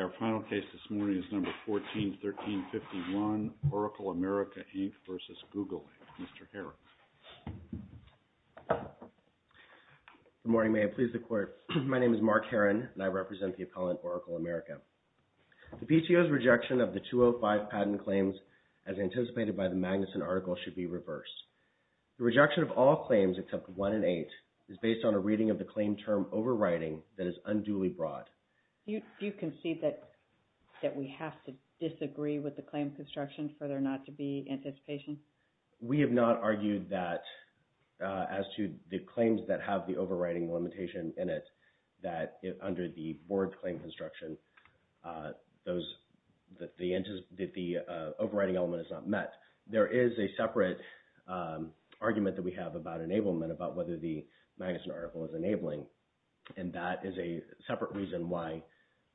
Our final case this morning is number 141351, Oracle America, Inc. v. Google, Inc., Mr. Harris. Good morning. May it please the Court, my name is Mark Herron and I represent the appellant, Oracle America. The PTO's rejection of the 205 patent claims as anticipated by the Magnuson article should be reversed. The rejection of all claims except one in eight is based on a reading of the claim term overriding that is unduly broad. Do you concede that we have to disagree with the claim construction for there not to be anticipation? We have not argued that, as to the claims that have the overriding limitation in it, that under the board claim construction, the overriding element is not met. There is a separate argument that we have about enablement, about whether the Magnuson article is enabling, and that is a separate reason why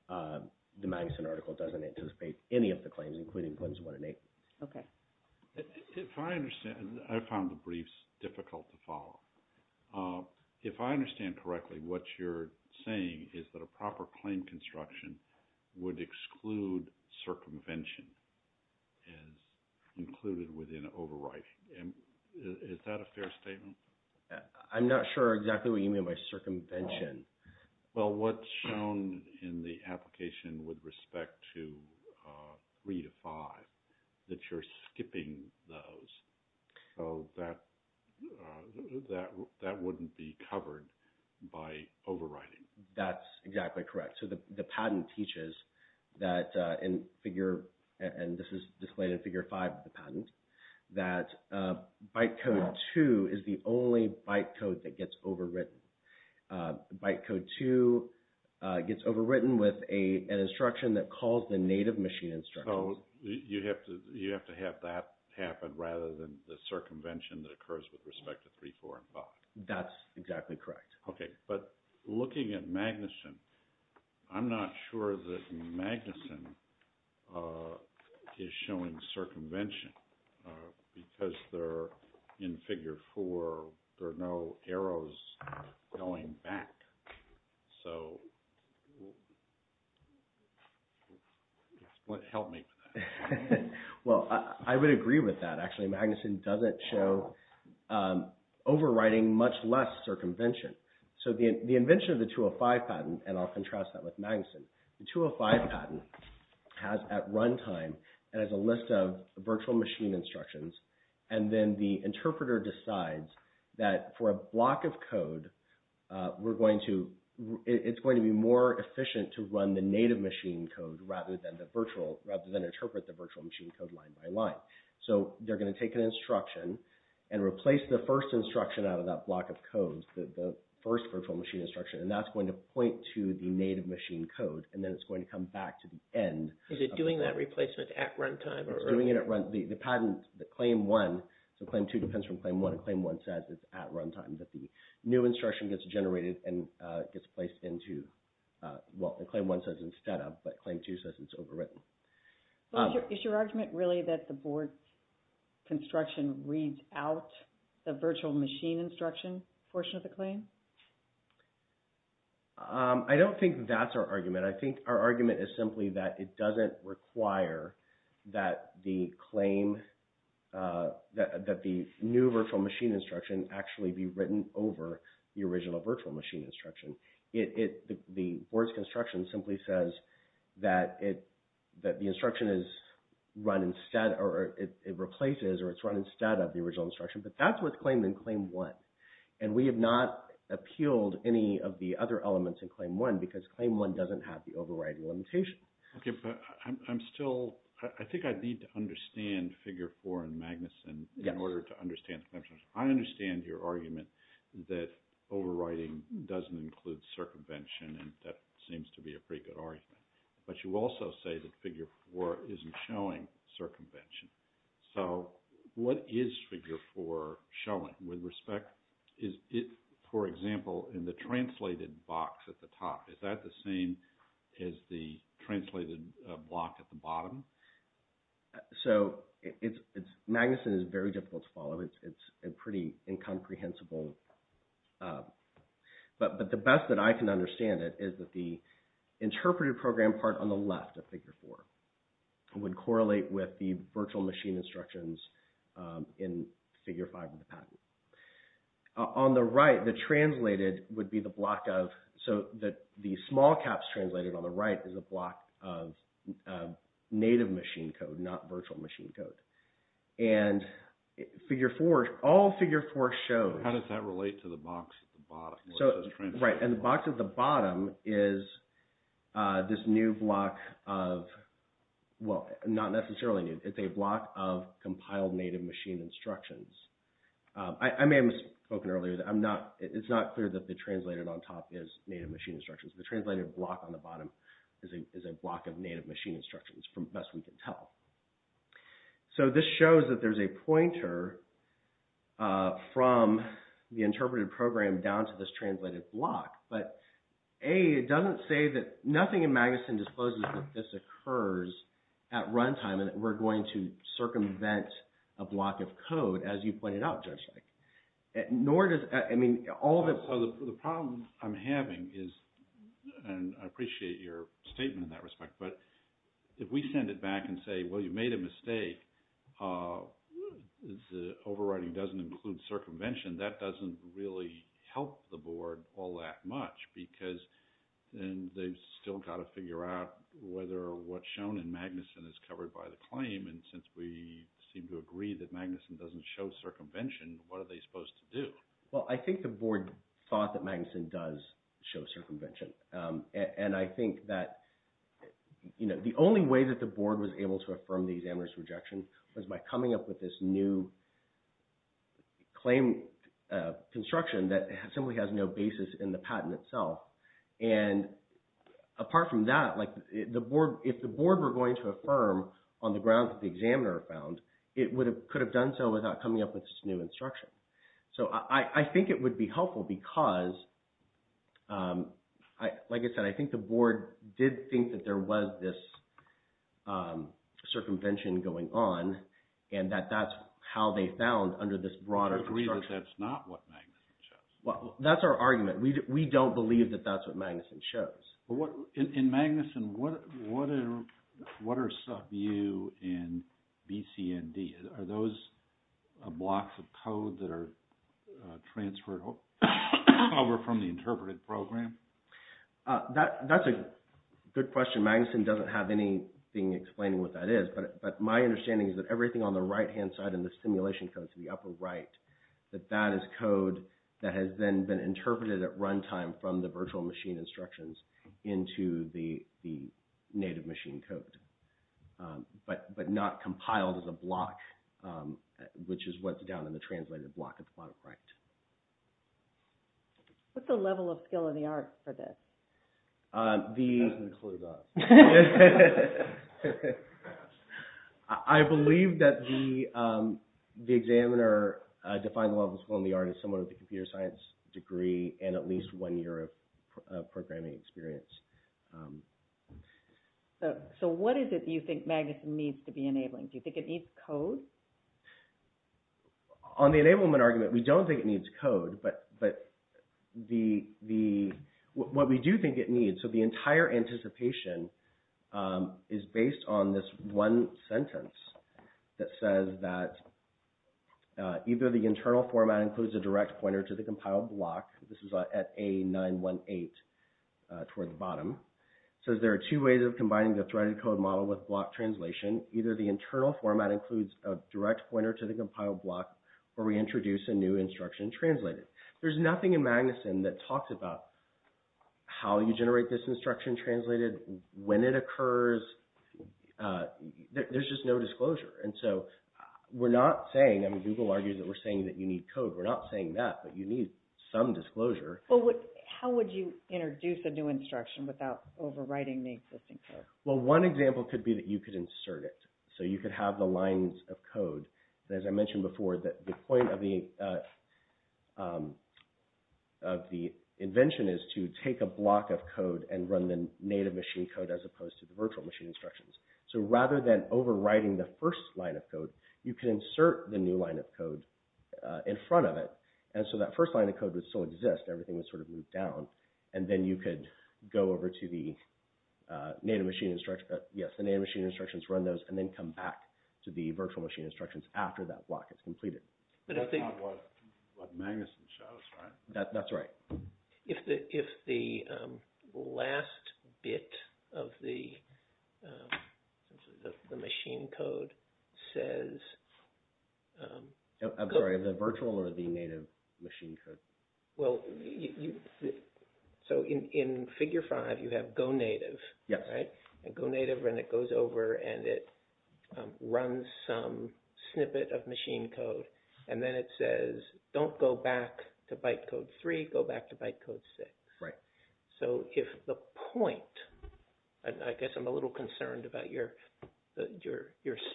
the Magnuson article doesn't anticipate any of the claims, including claims one in eight. Okay. If I understand, I found the briefs difficult to follow. If I understand correctly, what you're saying is that a proper claim construction would exclude circumvention as included within overriding. Is that a fair statement? I'm not sure exactly what you mean by circumvention. Well, what's shown in the application with respect to three to five, that you're skipping those, so that wouldn't be covered by overriding. That's exactly correct. So the patent teaches that in figure, and this is displayed in figure five of the patent, that byte code two is the only byte code that gets overwritten. Byte code two gets overwritten with an instruction that calls the native machine instruction. You have to have that happen, rather than the circumvention that occurs with respect to three, four, and five. That's exactly correct. Okay. But looking at Magnuson, I'm not sure that Magnuson is showing circumvention, because they're in figure four, there are no arrows going back. So help me with that. Well, I would agree with that, actually. Magnuson doesn't show overriding, much less circumvention. So the invention of the 205 patent, and I'll contrast that with Magnuson, the 205 patent has at runtime, it has a list of virtual machine instructions, and then the interpreter decides that for a block of code, we're going to, it's going to be more efficient to run the native machine code, rather than interpret the virtual machine code line by line. So they're going to take an instruction, and replace the first instruction out of that first virtual machine instruction, and that's going to point to the native machine code, and then it's going to come back to the end. Is it doing that replacement at runtime? It's doing it at runtime. The patent, the claim one, so claim two depends from claim one, and claim one says it's at runtime, that the new instruction gets generated and gets placed into, well, claim one says instead of, but claim two says it's overwritten. Is your argument really that the board construction reads out the virtual machine instruction portion of the claim? I don't think that's our argument. I think our argument is simply that it doesn't require that the claim, that the new virtual machine instruction actually be written over the original virtual machine instruction. The board's construction simply says that it, that the instruction is run instead, or it replaces, or it's run instead of the original instruction, but that's what's claimed in claim one. And we have not appealed any of the other elements in claim one, because claim one doesn't have the overwriting limitation. Okay, but I'm still, I think I'd need to understand figure four in Magnuson in order to understand the connection. I understand your argument that overwriting doesn't include circumvention, and that seems to be a pretty good argument, but you also say that figure four isn't showing circumvention. So what is figure four showing? With respect, is it, for example, in the translated box at the top, is that the same as the translated block at the bottom? So it's, Magnuson is very difficult to follow. It's a pretty incomprehensible, but the best that I can understand it is that the interpreted program part on the left of figure four would correlate with the virtual machine instructions in figure five of the patent. On the right, the translated would be the block of, so that the small caps translated on the right is a block of native machine code, not virtual machine code. And figure four, all figure four shows. How does that relate to the box at the bottom? So, right, and the box at the bottom is this new block of, well, not necessarily new, it's a block of compiled native machine instructions. I may have spoken earlier that I'm not, it's not clear that the translated on top is native machine instructions. The translated block on the bottom is a block of native machine instructions, from best we can tell. So this shows that there's a pointer from the interpreted program down to this translated block, but A, it doesn't say that, nothing in Magnuson discloses that this occurs at all. It doesn't say that you can circumvent a block of code as you point it out, just like, nor does, I mean, all of it. So the problem I'm having is, and I appreciate your statement in that respect, but if we send it back and say, well, you made a mistake, the overriding doesn't include circumvention, that doesn't really help the board all that much because then they've still got to figure out whether what's shown in Magnuson is covered by the claim, and since we seem to agree that Magnuson doesn't show circumvention, what are they supposed to do? Well, I think the board thought that Magnuson does show circumvention. And I think that the only way that the board was able to affirm the examiner's rejection was by coming up with this new claim construction that simply has no basis in the patent itself. And apart from that, like, if the board were going to affirm on the grounds that the examiner found, it could have done so without coming up with this new instruction. So I think it would be helpful because, like I said, I think the board did think that there was this circumvention going on and that that's how they found under this broader construction. I agree that that's not what Magnuson shows. Well, that's our argument. We don't believe that that's what Magnuson shows. In Magnuson, what are sub-U and BCND? Are those blocks of code that are transferred over from the interpreted program? That's a good question. Magnuson doesn't have anything explaining what that is. But my understanding is that everything on the right-hand side in the simulation code to the upper right, that that is code that has then been interpreted at runtime from the virtual machine instructions into the native machine code. But not compiled as a block, which is what's down in the translated block at the bottom right. What's the level of skill and the art for this? I have no clue about it. I believe that the examiner defined the level of skill and the art as someone with a computer science degree and at least one year of programming experience. So what is it you think Magnuson needs to be enabling? Do you think it needs code? On the enablement argument, we don't think it needs code. But what we do think it needs, so the entire anticipation is based on this one sentence that says that either the internal format includes a direct pointer to the compiled block. This is at A918 toward the bottom. It says there are two ways of combining the threaded code model with block translation. Either the internal format includes a direct pointer to the compiled block or we introduce a new instruction translated. There's nothing in Magnuson that talks about how you generate this instruction translated, when it occurs. There's just no disclosure. And so we're not saying, I mean Google argues that we're saying that you need code. We're not saying that, but you need some disclosure. How would you introduce a new instruction without overwriting the existing code? Well, one example could be that you could insert it. So you could have the lines of code. As I mentioned before, the point of the invention is to take a block of code and run the native machine code as opposed to the virtual machine instructions. So rather than overwriting the first line of code, you can insert the new line of code in front of it. And so that first line of code would still exist. Everything would sort of move down. And then you could go over to the native machine instructions, run those, and then come back to the virtual machine instructions after that block is completed. But that's not what Magnuson shows, right? That's right. If the last bit of the machine code says... I'm sorry, the virtual or the native machine code? Well, so in Figure 5, you have Go Native, right? Yes. And Go Native, and it goes over and it runs some snippet of machine code. And then it says, don't go back to bytecode 3, go back to bytecode 6. Right. So if the point... I guess I'm a little concerned about your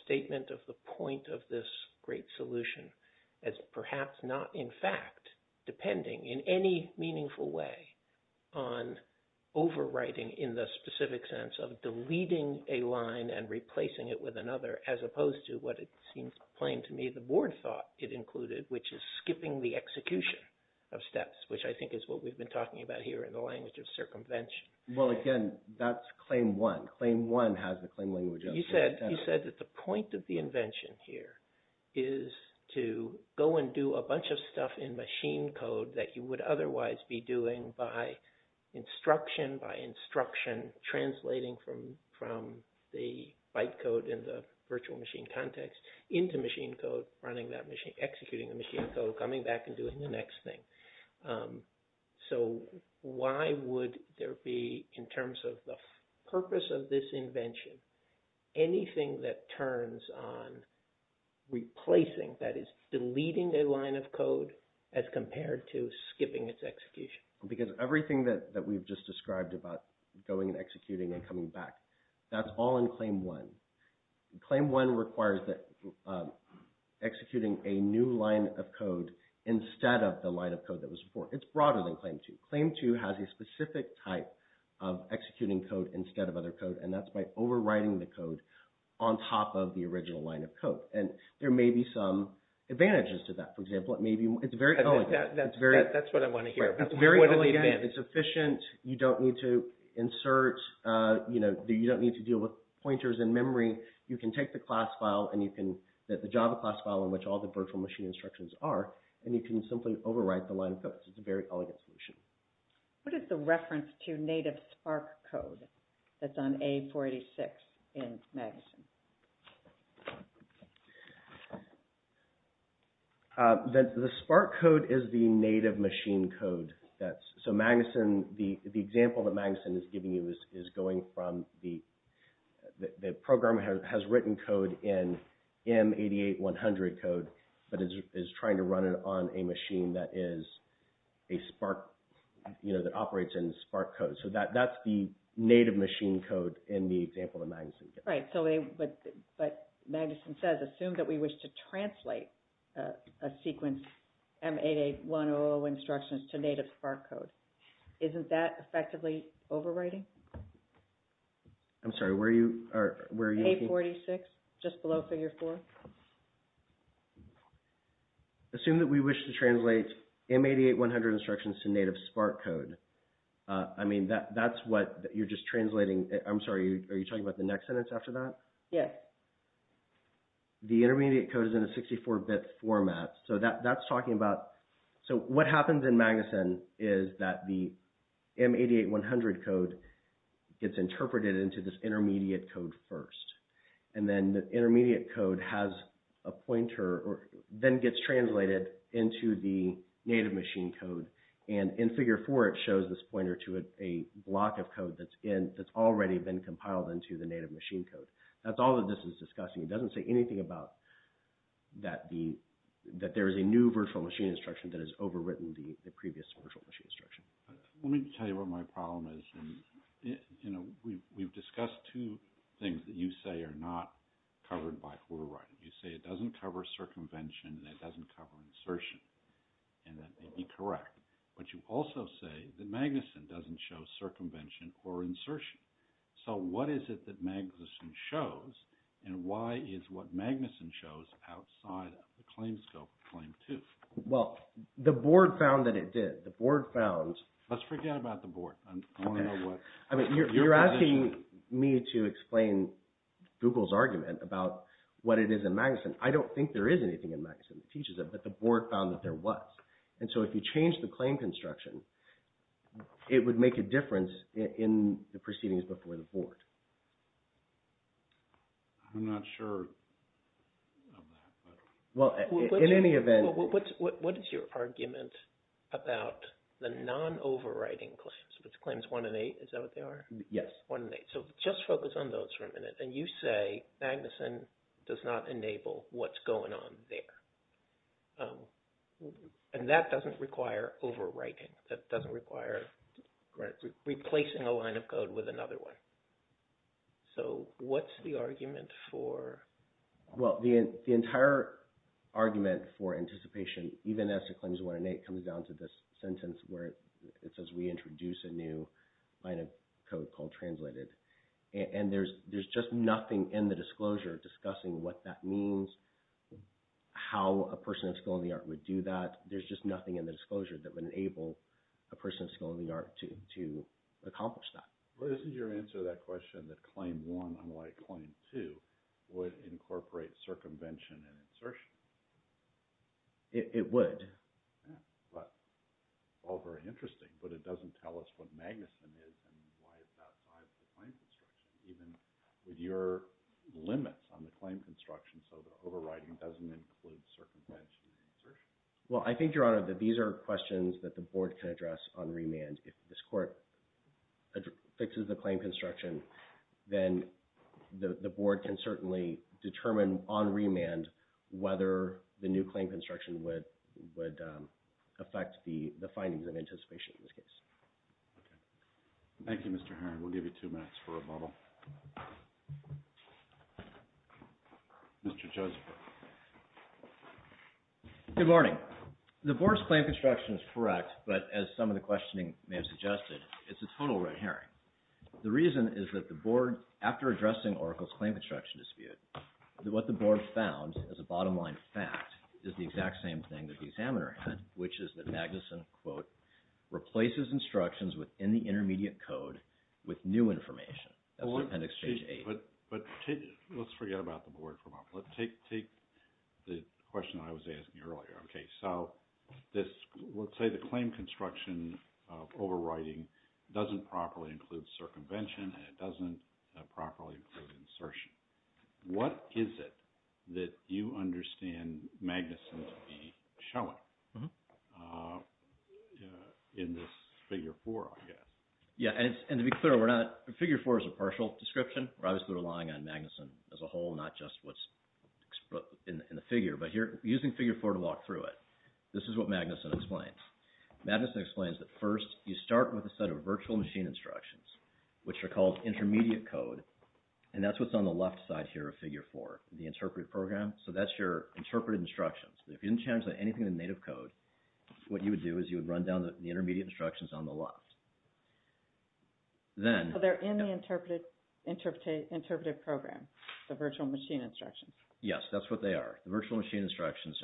statement of the point of this great solution as perhaps not, in fact, depending in any meaningful way on overwriting in the specific sense of deleting a line and replacing it with another, as opposed to what it seems plain to me the board thought it included, which is skipping the execution of steps, which I think is what we've been talking about here in the language of circumvention. Well, again, that's claim one. Claim one has the claim language of... You said that the point of the invention here is to go and do a bunch of stuff in machine code that you would otherwise be doing by instruction by instruction, translating from the bytecode in the virtual machine context into machine code, running that machine, executing the machine code, coming back and doing the next thing. So why would there be, in terms of the purpose of this invention, anything that turns on deleting a line of code as compared to skipping its execution? Because everything that we've just described about going and executing and coming back, that's all in claim one. Claim one requires executing a new line of code instead of the line of code that was before. It's broader than claim two. Claim two has a specific type of executing code instead of other code, and that's by overwriting the code on top of the original line of code. And there may be some advantages to that, for example. It may be... It's very elegant. That's what I want to hear. It's very elegant. It's efficient. You don't need to insert... You don't need to deal with pointers in memory. You can take the class file and you can... The Java class file in which all the virtual machine instructions are, and you can simply overwrite the line of code. It's a very elegant solution. What is the reference to native Spark code that's on A486 in Magnuson? The Spark code is the native machine code. So Magnuson, the example that Magnuson is giving you is going from the... The program has written code in M88100 code, but is trying to run it on a machine that is a Spark, that operates in Spark code. So that's the native machine code in the example that Magnuson gives. Right. So what Magnuson says, assume that we wish to translate a sequence M88100 instructions to native Spark code. Isn't that effectively overwriting? I'm sorry, where are you looking? A486, just below figure four. Assume that we wish to translate M88100 instructions to native Spark code. I mean, that's what you're just translating. I'm sorry, are you talking about the next sentence after that? Yeah. The intermediate code is in a 64-bit format. So that's talking about... So what happens in Magnuson is that the M88100 code gets interpreted into this intermediate code first. And then the intermediate code has a pointer, then gets translated into the native machine code. And in figure four, it shows this pointer to a block of code that's already been compiled into the native machine code. That's all that this is discussing. It doesn't say anything about that there is a new virtual machine instruction that has overwritten the previous virtual machine instruction. Let me tell you what my problem is. We've discussed two things that you say are not covered by Hoare writing. You say it doesn't cover circumvention, and it doesn't cover insertion. And that may be correct. But you also say that Magnuson doesn't show circumvention or insertion. So what is it that Magnuson shows? And why is what Magnuson shows outside of the claim scope of claim two? Well, the board found that it did. The board found... Let's forget about the board. I don't know what... I mean, you're asking me to explain Google's argument about what it is in Magnuson. I don't think there is anything in Magnuson that teaches it, but the board found that there was. And so if you change the claim construction, it would make a difference in the proceedings before the board. I'm not sure of that. Well, in any event... What is your argument about the non-overwriting claims, which claims one and eight? Is that what they are? Yes. One and eight. So just focus on those for a minute. And you say Magnuson does not enable what's going on there. And that doesn't require overwriting. That doesn't require replacing a line of code with another one. So what's the argument for... Well, the entire argument for anticipation, even as it claims one and eight, comes down to this sentence where it says we introduce a new line of code called translated. And there's just nothing in the disclosure discussing what that means, how a person of skill in the art would do that. There's just nothing in the disclosure that would enable a person of skill in the art to accomplish that. Well, isn't your answer to that question that claim one, unlike claim two, would incorporate circumvention and insertion? It would. All very interesting, but it doesn't tell us what Magnuson is and why it's not part of the claim construction, even with your limits on the claim construction, so the overwriting doesn't include circumvention and insertion. Well, I think, Your Honor, that these are questions that the board can address on remand if this court fixes the claim construction, then the board can certainly determine on remand whether the new claim construction would affect the findings of anticipation in this case. Thank you, Mr. Heron. We'll give you two minutes for a bubble. Mr. Joseph. Good morning. The board's claim construction is correct, but as some of the questioning may have suggested, it's a total red herring. The reason is that the board, after addressing Oracle's claim construction dispute, what the board found as a bottom line fact is the exact same thing that the examiner had, which is that Magnuson, quote, replaces instructions within the intermediate code with new information. That's appendix page eight. But let's forget about the board for a moment. Let's take the question I was asking earlier. Okay, so let's say the claim construction overriding doesn't properly include circumvention and it doesn't properly include insertion. What is it that you understand Magnuson to be showing in this figure four, I guess? Yeah, and to be clear, figure four is a partial description. We're obviously relying on Magnuson as a whole, not just what's in the figure. But you're using figure four to walk through it. This is what Magnuson explains. Magnuson explains that first you start with a set of virtual machine instructions, which are called intermediate code, and that's what's on the left side here of figure four, the interpretive program. So that's your interpretive instructions. If you didn't change anything in the native code, what you would do is you would run down the intermediate instructions on the left. So they're in the interpretive program, the virtual machine instructions. Yes, that's what they are. The virtual machine instructions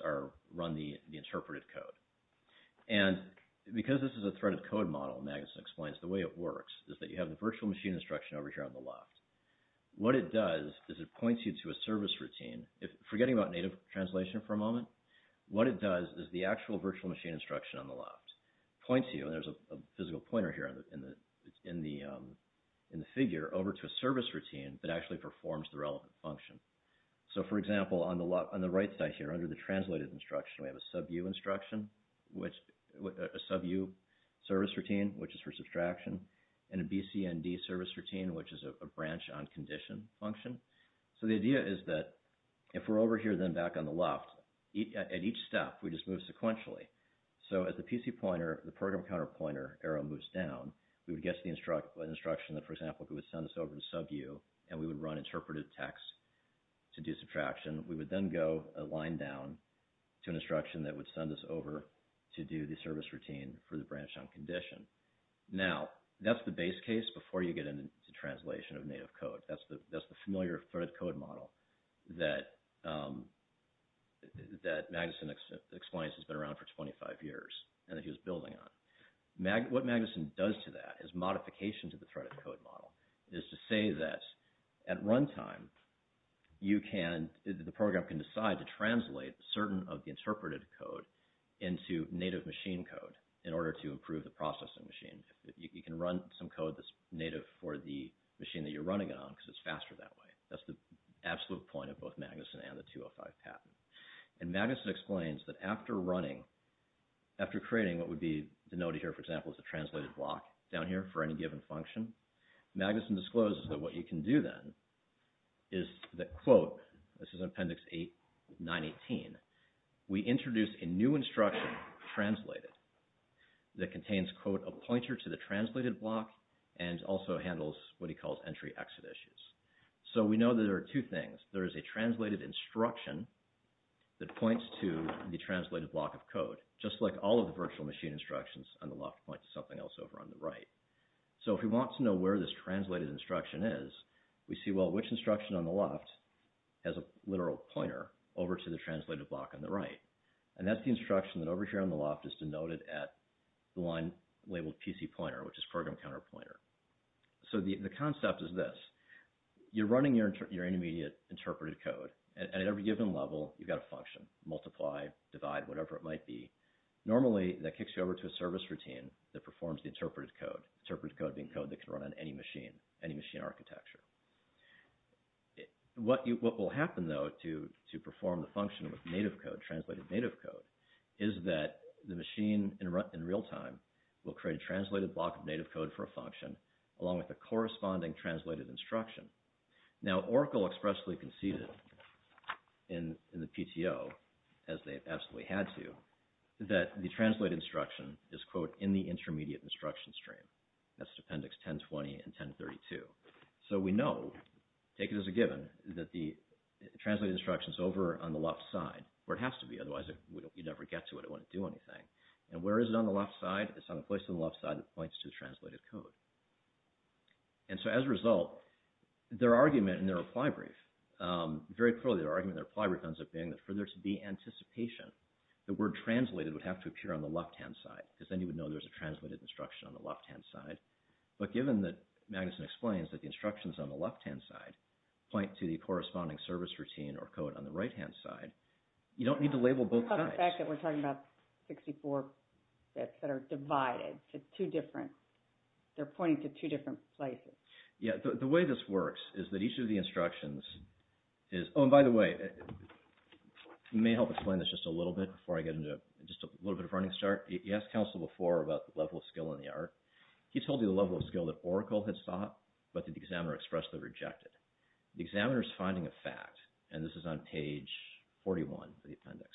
run the interpretive code. And because this is a threaded code model, Magnuson explains, the way it works is that you have the virtual machine instruction over here on the left. What it does is it points you to a service routine. Forgetting about native translation for a moment, what it does is the actual virtual machine instruction on the left points you, and there's a physical pointer here in the figure, over to a service routine that actually performs the relevant function. So, for example, on the right side here, under the translated instruction, we have a SUBU instruction, a SUBU service routine, which is for subtraction, and a BCND service routine, which is a branch on condition function. So the idea is that if we're over here, then back on the left, at each step, we just move sequentially. So as the PC pointer, the program counter pointer arrow moves down, we would get an instruction that, for example, would send us over to SUBU, and we would run interpretive text to do subtraction. We would then go a line down to an instruction that would send us over to do the service routine for the branch on condition. Now, that's the base case before you get into translation of native code. That's the familiar threaded code model that Magnuson explains has been around for 25 years and that he was building on. What Magnuson does to that is modification to the threaded code model. It is to say that at runtime, you can, the program can decide to translate certain of the interpreted code into native machine code in order to improve the processing machine. You can run some code that's native for the machine that you're running it on because it's faster that way. That's the absolute point of both Magnuson and the 205 patent. And Magnuson explains that after running, after creating what would be denoted here, for example, as a translated block down here for any given function, Magnuson discloses that what you can do then is that, quote, this is Appendix 8, 918, we introduce a new instruction, translated, that contains, quote, a pointer to the translated block and also handles what he calls entry-exit issues. So we know that there are two things. There is a translated instruction that points to the translated block of code, just like all of the virtual machine instructions on the left point to something else over on the right. So if we want to know where this translated instruction is, we see, well, which instruction on the left has a literal pointer over to the translated block on the right? And that's the instruction that over here on the left is denoted at the line labeled PC pointer, which is program counter pointer. So the concept is this. You're running your intermediate interpreted code, and at every given level, you've got a function, multiply, divide, whatever it might be. Normally, that kicks you over to a service routine that performs the interpreted code, interpreted code being code that can run on any machine, any machine architecture. What will happen, though, to perform the function with native code, translated native code, is that the machine in real time will create a translated block of native code for a function along with the corresponding translated instruction. Now, Oracle expressly conceded in the PTO, as they absolutely had to, that the translated instruction is, quote, in the intermediate instruction stream. That's appendix 1020 and 1032. So we know, take it as a given, that the translated instruction's over on the left side where it has to be, otherwise you'd never get to it. It wouldn't do anything. And where is it on the left side? It's on a place on the left side that points to the translated code. And so as a result, their argument in their reply brief, very clearly, their argument in their reply brief ends up being that for there to be anticipation, the word translated would have to appear on the left-hand side because then you would know there's a translated instruction on the left-hand side. But given that Magnuson explains that the instructions on the left-hand side point to the corresponding service routine or code on the right-hand side, you don't need to label both sides. What about the fact that we're talking about 64 bits that are divided to two different... They're pointing to two different places. Yeah, the way this works is that each of the instructions is... Oh, and by the way, it may help explain this just a little bit before I get into just a little bit of a running start. He asked counsel before about the level of skill in the art. He told you the level of skill that Oracle had sought, but the examiner expressly rejected. The examiner's finding a fact, and this is on page 41 of the appendix,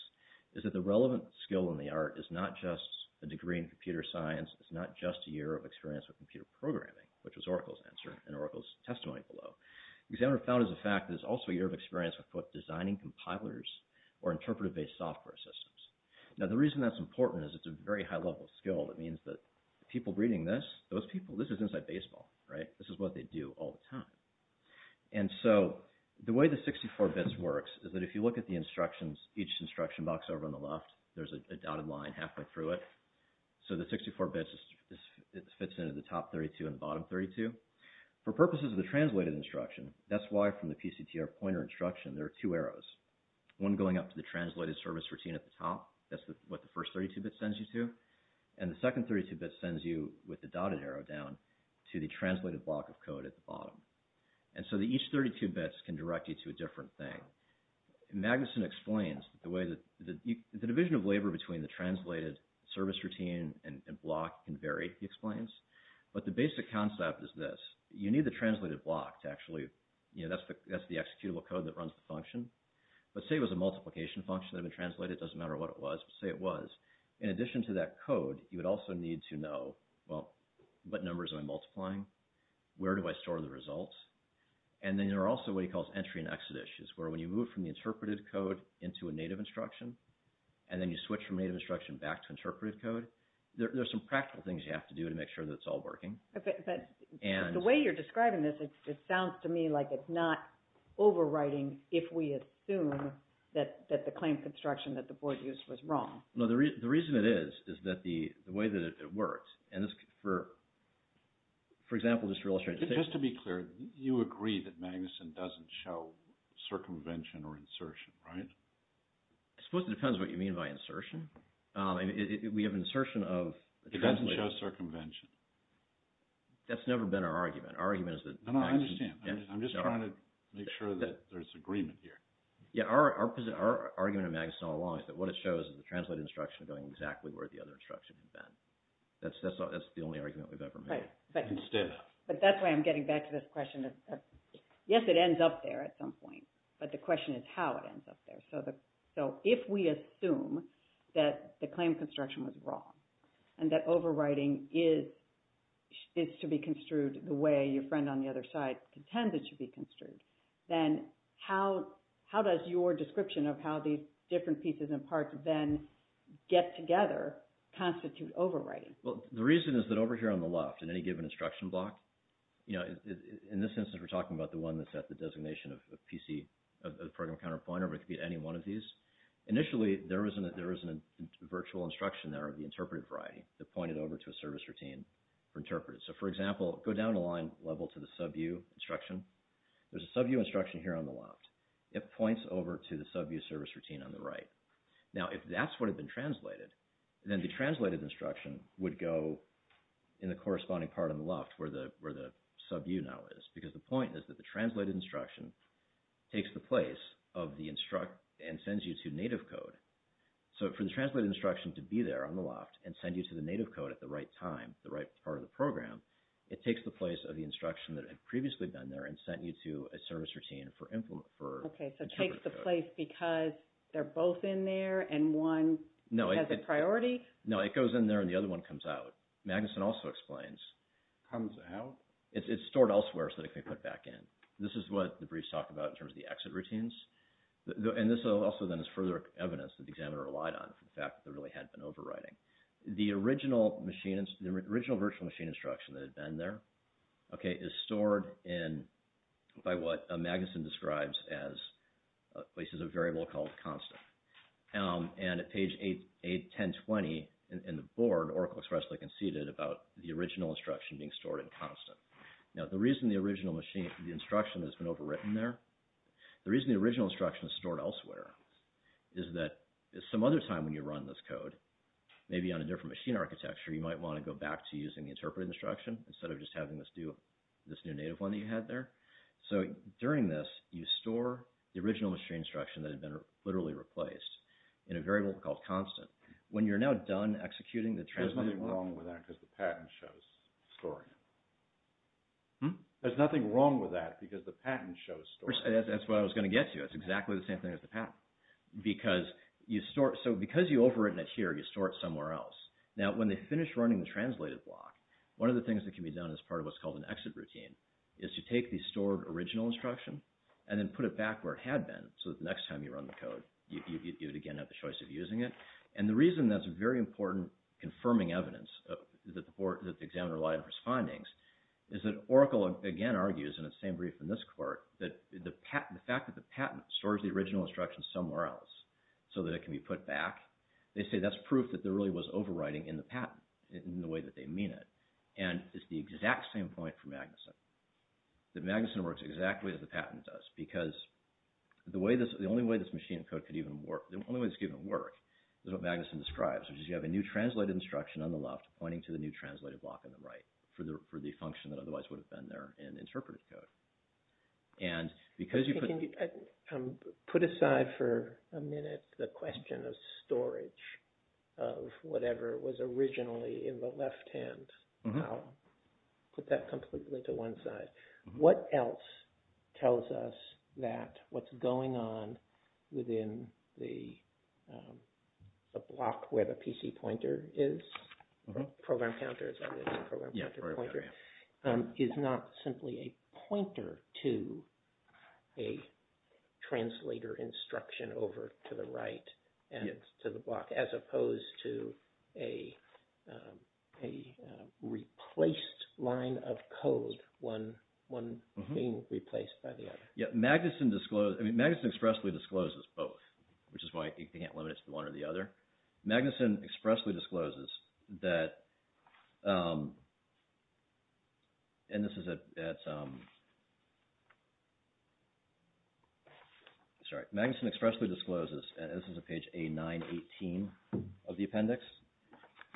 is that the relevant skill in the art is not just a degree in computer science. It's not just a year of experience with computer programming, which was Oracle's answer in Oracle's testimony below. The examiner found as a fact that it's also a year of experience with designing compilers or interpretive-based software systems. Now, the reason that's important is it's a very high-level skill. That means that people reading this, those people, this is inside baseball, right? This is what they do all the time. And so the way the 64-bits works is that if you look at the instructions, each instruction box over on the left, there's a dotted line halfway through it. So the 64-bits fits into the top 32 and the bottom 32. For purposes of the translated instruction, that's why from the PCTR pointer instruction, there are two arrows, one going up to the translated service routine at the top. That's what the first 32-bit sends you to. And the second 32-bit sends you with the dotted arrow down to the translated block of code at the bottom. And so each 32-bits can direct you to a different thing. Magnuson explains the way that... The division of labor between the translated service routine and block can vary, he explains. But the basic concept is this. You need the translated block to actually... You know, that's the executable code that runs the function. But say it was a multiplication function that had been translated. It doesn't matter what it was, but say it was. In addition to that code, you would also need to know, well, what numbers am I multiplying? Where do I store the results? And then there are also what he calls entry and exit issues, where when you move from the interpreted code into a native instruction, and then you switch from native instruction back to interpreted code, there's some practical things you have to do to make sure that it's all working. But the way you're describing this, it sounds to me like it's not overriding if we assume that the claim construction that the board used was wrong. No, the reason it is is that the way that it works, and for example, just to illustrate... Just to be clear, you agree that Magnuson doesn't show circumvention or insertion, right? I suppose it depends what you mean by insertion. We have insertion of... It doesn't show circumvention. That's never been our argument. Our argument is that... No, no, I understand. I'm just trying to make sure that there's agreement here. Yeah, our argument at Magnuson all along is that what it shows is the translated instruction going exactly where the other instruction has been. That's the only argument we've ever made. But that's why I'm getting back to this question of... Yes, it ends up there at some point, but the question is how it ends up there. So if we assume that the claim construction was wrong and that overriding is to be construed the way your friend on the other side contends it should be construed, then how does your description of how these different pieces and parts then get together constitute overriding? Well, the reason is that over here on the left in any given instruction block, you know, in this instance, we're talking about the one that's at the designation of PC, of the program counterpointer, but it could be any one of these. Initially, there was a virtual instruction there of the interpretive variety that pointed over to a service routine for interpreters. So, for example, go down a line level to the SUBU instruction. There's a SUBU instruction here on the left. It points over to the SUBU service routine on the right. Now, if that's what had been translated, then the translated instruction would go in the corresponding part on the left where the SUBU now is, because the point is that the translated instruction takes the place of the instruct and sends you to native code. So, for the translated instruction to be there on the left and send you to the native code at the right time, the right part of the program, it takes the place of the instruction that had previously been there and sent you to a service routine for interpreters. Okay, so it takes the place because they're both in there and one has a priority? No, it goes in there and the other one comes out. Magnuson also explains... Comes out? It's stored elsewhere so that it can be put back in. This is what the briefs talk about in terms of the exit routines. And this also then is further evidence that the examiner relied on for the fact that there really had been overriding. The original virtual machine instruction that had been there, okay, is stored in by what Magnuson describes as places of variable called constant. And at page 81020 in the board, Oracle expressly conceded about the original instruction being stored in constant. Now, the reason the original instruction has been overwritten there, the reason the original instruction is stored elsewhere is that some other time when you run this code, maybe on a different machine architecture, you might want to go back to using the interpreted instruction instead of just having this new native one that you had there. So, during this, you store the original machine instruction that had been literally replaced in a variable called constant. When you're now done executing the... There's nothing wrong with that because the patent shows storing it. Hmm? There's nothing wrong with that because the patent shows storing it. That's what I was going to get to. It's exactly the same thing as the patent. Because you store... So, because you overwritten it here, you store it somewhere else. Now, when they finish running the translated block, one of the things that can be done as part of what's called an exit routine is to take the stored original instruction and then put it back where it had been so that the next time you run the code, you'd again have the choice of using it. And the reason that's a very important confirming evidence that the examiner lied in his findings is that Oracle again argues in its same brief in this court that the fact that the patent stores the original instruction somewhere else so that it can be put back, they say that's proof that there really was overwriting in the patent in the way that they mean it. And it's the exact same point for Magnuson, that Magnuson works exactly as the patent does because the only way this machine of code could even work, the only way this could even work is what Magnuson describes, which is you have a new translated instruction on the left pointing to the new translated block on the right for the function that otherwise would have been there in interpreted code. And because you put... Put aside for a minute the question of storage of whatever was originally in the left hand. I'll put that completely to one side. But what else tells us that what's going on within the block where the PC pointer is, program counter, is not simply a pointer to a translator instruction over to the right and to the block as opposed to a replaced line of code being replaced by the other? Magnuson expressly discloses both, which is why you can't limit it to one or the other. Magnuson expressly discloses that... And this is at... Sorry. Magnuson expressly discloses, and this is at page A918 of the appendix,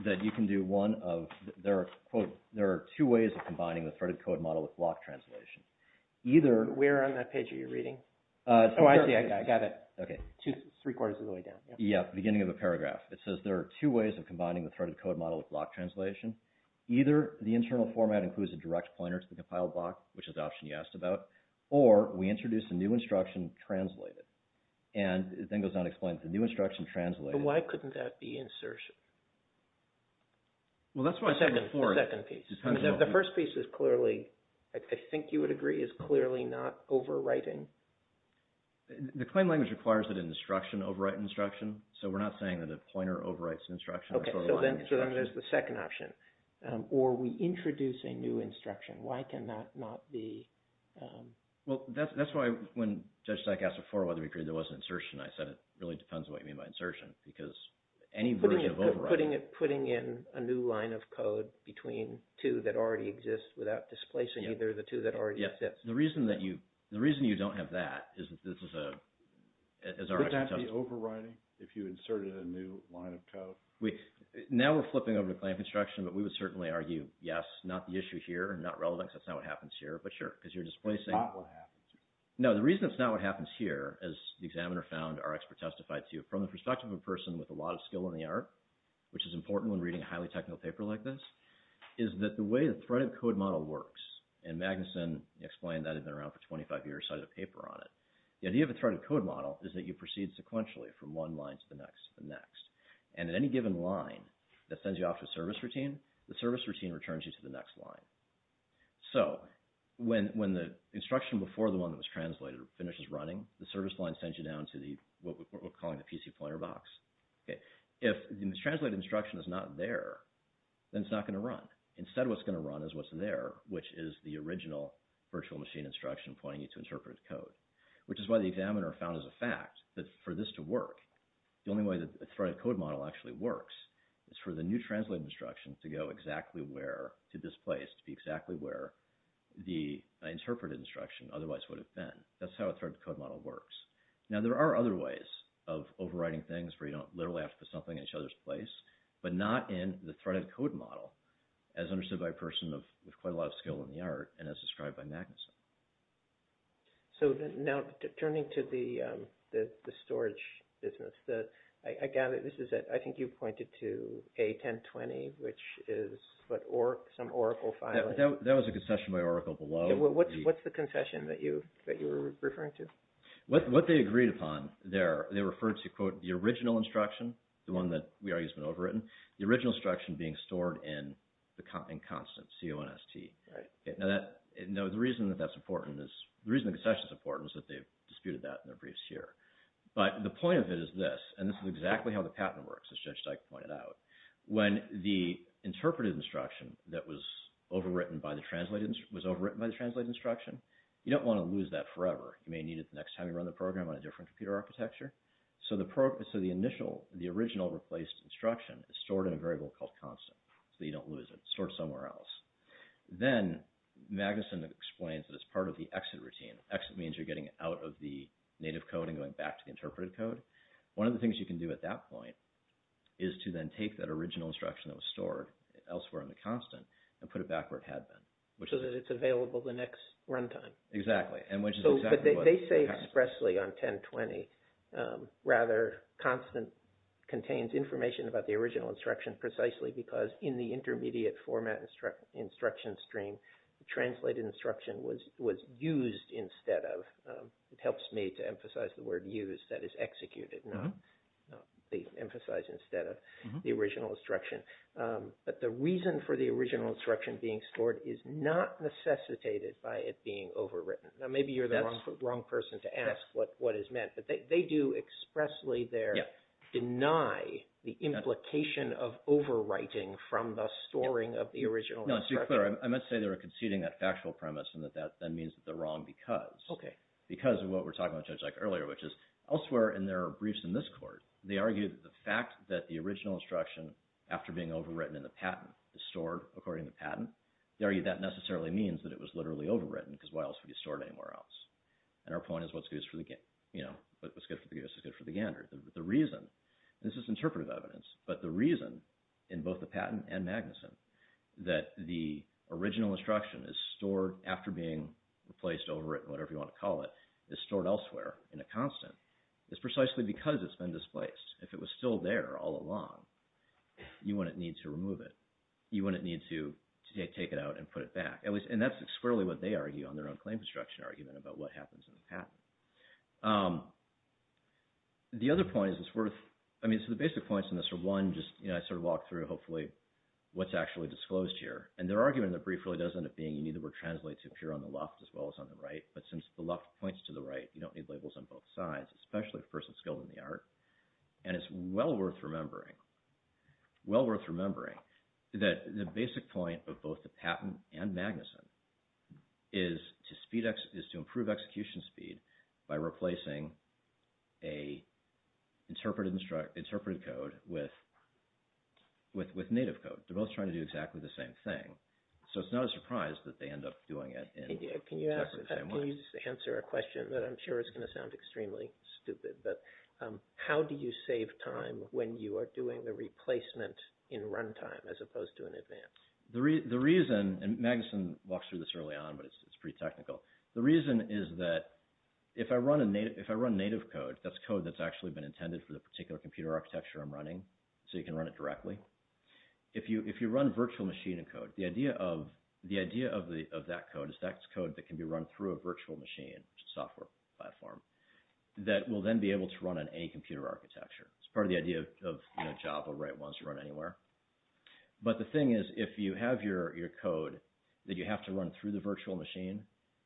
that you can do one of... There are two ways of combining the threaded code model with block translation. Either... Where on that page are you reading? Oh, I see, I got it. Okay. Three quarters of the way down. Yeah, beginning of a paragraph. It says there are two ways of combining the threaded code model with block translation. Either the internal format includes a direct pointer to the compiled block, which is the option you asked about, or we introduce a new instruction translated. And it then goes on to explain that the new instruction translated... But why couldn't that be insertion? Well, that's what I said before. The second piece. The first piece is clearly, I think you would agree, is clearly not overwriting. The claim language requires that an instruction overwrite an instruction, so we're not saying that a pointer overwrites an instruction. Okay, so then there's the second option. Or we introduce a new instruction. Why can that not be... Well, that's why when Judge Stack asked before whether we agreed there was an insertion, I said it really depends on what you mean by insertion, because any version of overwriting... Putting in a new line of code between two that already exist without displacing either of the two that already exist. The reason you don't have that is that this is a... Would that be overwriting if you inserted a new line of code? Now we're flipping over to claim construction, but we would certainly argue yes, not the issue here and not relevant because that's not what happens here, but sure, because you're displacing... It's not what happens here. No, the reason it's not what happens here, as the examiner found, our expert testified to, from the perspective of a person with a lot of skill in the art, which is important when reading a highly technical paper like this, is that the way the threaded code model works, and Magnuson explained that had been around for 25 years, cited a paper on it. The idea of a threaded code model is that you proceed sequentially from one line to the next to the next. And at any given line that sends you off to a service routine, the service routine returns you to the next line. So when the instruction before the one that was translated finishes running, the service line sends you down to the... What we're calling the PC pointer box. If the translated instruction is not there, then it's not gonna run. Instead, what's gonna run is what's there, which is the original virtual machine instruction pointing you to interpret code, which is why the examiner found as a fact that for this to work, the only way the threaded code model actually works is for the new translated instruction to go exactly where, to this place, to be exactly where the interpreted instruction otherwise would have been. That's how a threaded code model works. Now, there are other ways of overriding things where you don't literally have to put something in each other's place, but not in the threaded code model, as understood by a person with quite a lot of skill in the art and as described by Magnuson. So now, turning to the storage business, I gather this is, I think you pointed to A1020, which is some Oracle file. That was a concession by Oracle below. What's the concession that you were referring to? What they agreed upon there, they referred to, quote, the original instruction, the one that we argue has been overwritten, the original instruction being stored in constant, C-O-N-S-T. Now, the reason that that's important is, the reason the concession is important is that they've disputed that in their briefs here. But the point of it is this, and this is exactly how the patent works, as Judge Dyke pointed out. When the interpreted instruction that was overwritten by the translated instruction, you don't want to lose that forever. You may need it the next time you run the program on a different computer architecture. So the initial, the original replaced instruction is stored in a variable called constant, so you don't lose it. It's stored somewhere else. Then, Magnuson explains that it's part of the exit routine. Exit means you're getting out of the native code and going back to the interpreted code. One of the things you can do at that point is to then take that original instruction that was stored elsewhere in the constant and put it back where it had been. So that it's available the next runtime. Exactly. But they say expressly on 1020, rather constant contains information about the original instruction precisely because in the intermediate format instruction stream, the translated instruction was used instead of, it helps me to emphasize the word used, that is executed, not emphasized instead of the original instruction. But the reason for the original instruction being stored is not necessitated by it being overwritten. Now maybe you're the wrong person to ask what is meant, but they do expressly there deny the implication of overwriting from the storing of the original instruction. No, to be clear, I must say they were conceding that factual premise and that that then means that they're wrong because. Because of what we were talking about earlier, which is elsewhere, and there are briefs in this court, they argue that the fact that the original instruction, after being overwritten in the patent, is stored according to patent. They argue that necessarily means that it was literally overwritten because why else would you store it anywhere else? And our point is what's good for the game, what's good for the game is good for the gander. The reason, this is interpretive evidence, but the reason in both the patent and Magnuson that the original instruction is stored after being replaced, overwritten, whatever you want to call it, is stored elsewhere in a constant. It's precisely because it's been displaced. If it was still there all along, you wouldn't need to remove it. You wouldn't need to take it out and put it back. And that's squarely what they argue on their own claim construction argument about what happens in the patent. The other point is it's worth, I mean, so the basic points in this are, one, just I sort of walked through, hopefully, what's actually disclosed here. And their argument in the brief really does end up being you need the word translate to appear on the left as well as on the right. But since the left points to the right, you don't need labels on both sides, especially for a person skilled in the art. And it's well worth remembering, well worth remembering that the basic point of both the patent and Magnuson is to improve execution speed by replacing a interpreted code with native code. They're both trying to do exactly the same thing. So it's not a surprise that they end up doing it in exactly the same way. Can you answer a question that I'm sure is going to sound extremely stupid, but how do you save time when you are doing the replacement in runtime as opposed to in advance? The reason, and Magnuson walks through this early on, but it's pretty technical. The reason is that if I run native code, that's code that's actually been intended for the particular computer architecture I'm running, so you can run it directly. If you run virtual machine code, the idea of that code is that's code that can be run through a virtual machine, which is a software platform, that will then be able to run on any computer architecture. It's part of the idea of Java, right? It wants to run anywhere. But the thing is, if you have your code that you have to run through the virtual machine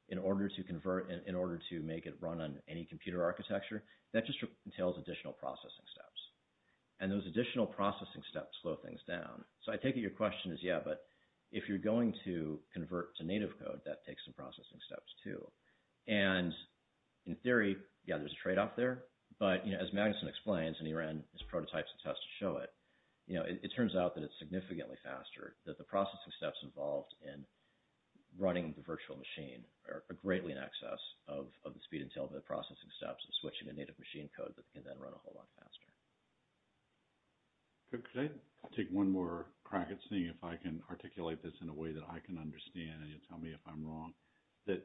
in order to convert, in order to make it run on any computer architecture, that just entails additional processing steps. And those additional processing steps slow things down. So I take it your question is, yeah, but if you're going to convert to native code, that takes some processing steps, too. And in theory, yeah, there's a trade-off there, but, you know, as Magnuson explains, and he ran his prototypes and tests to show it, you know, it turns out that it's significantly faster, that the processing steps involved in running the virtual machine are greatly in excess of the speed entailed in the processing steps of switching to native machine code that can then run a whole lot faster. Could I take one more crack at seeing if I can articulate this in a way that I can understand, and you'll tell me if I'm wrong, that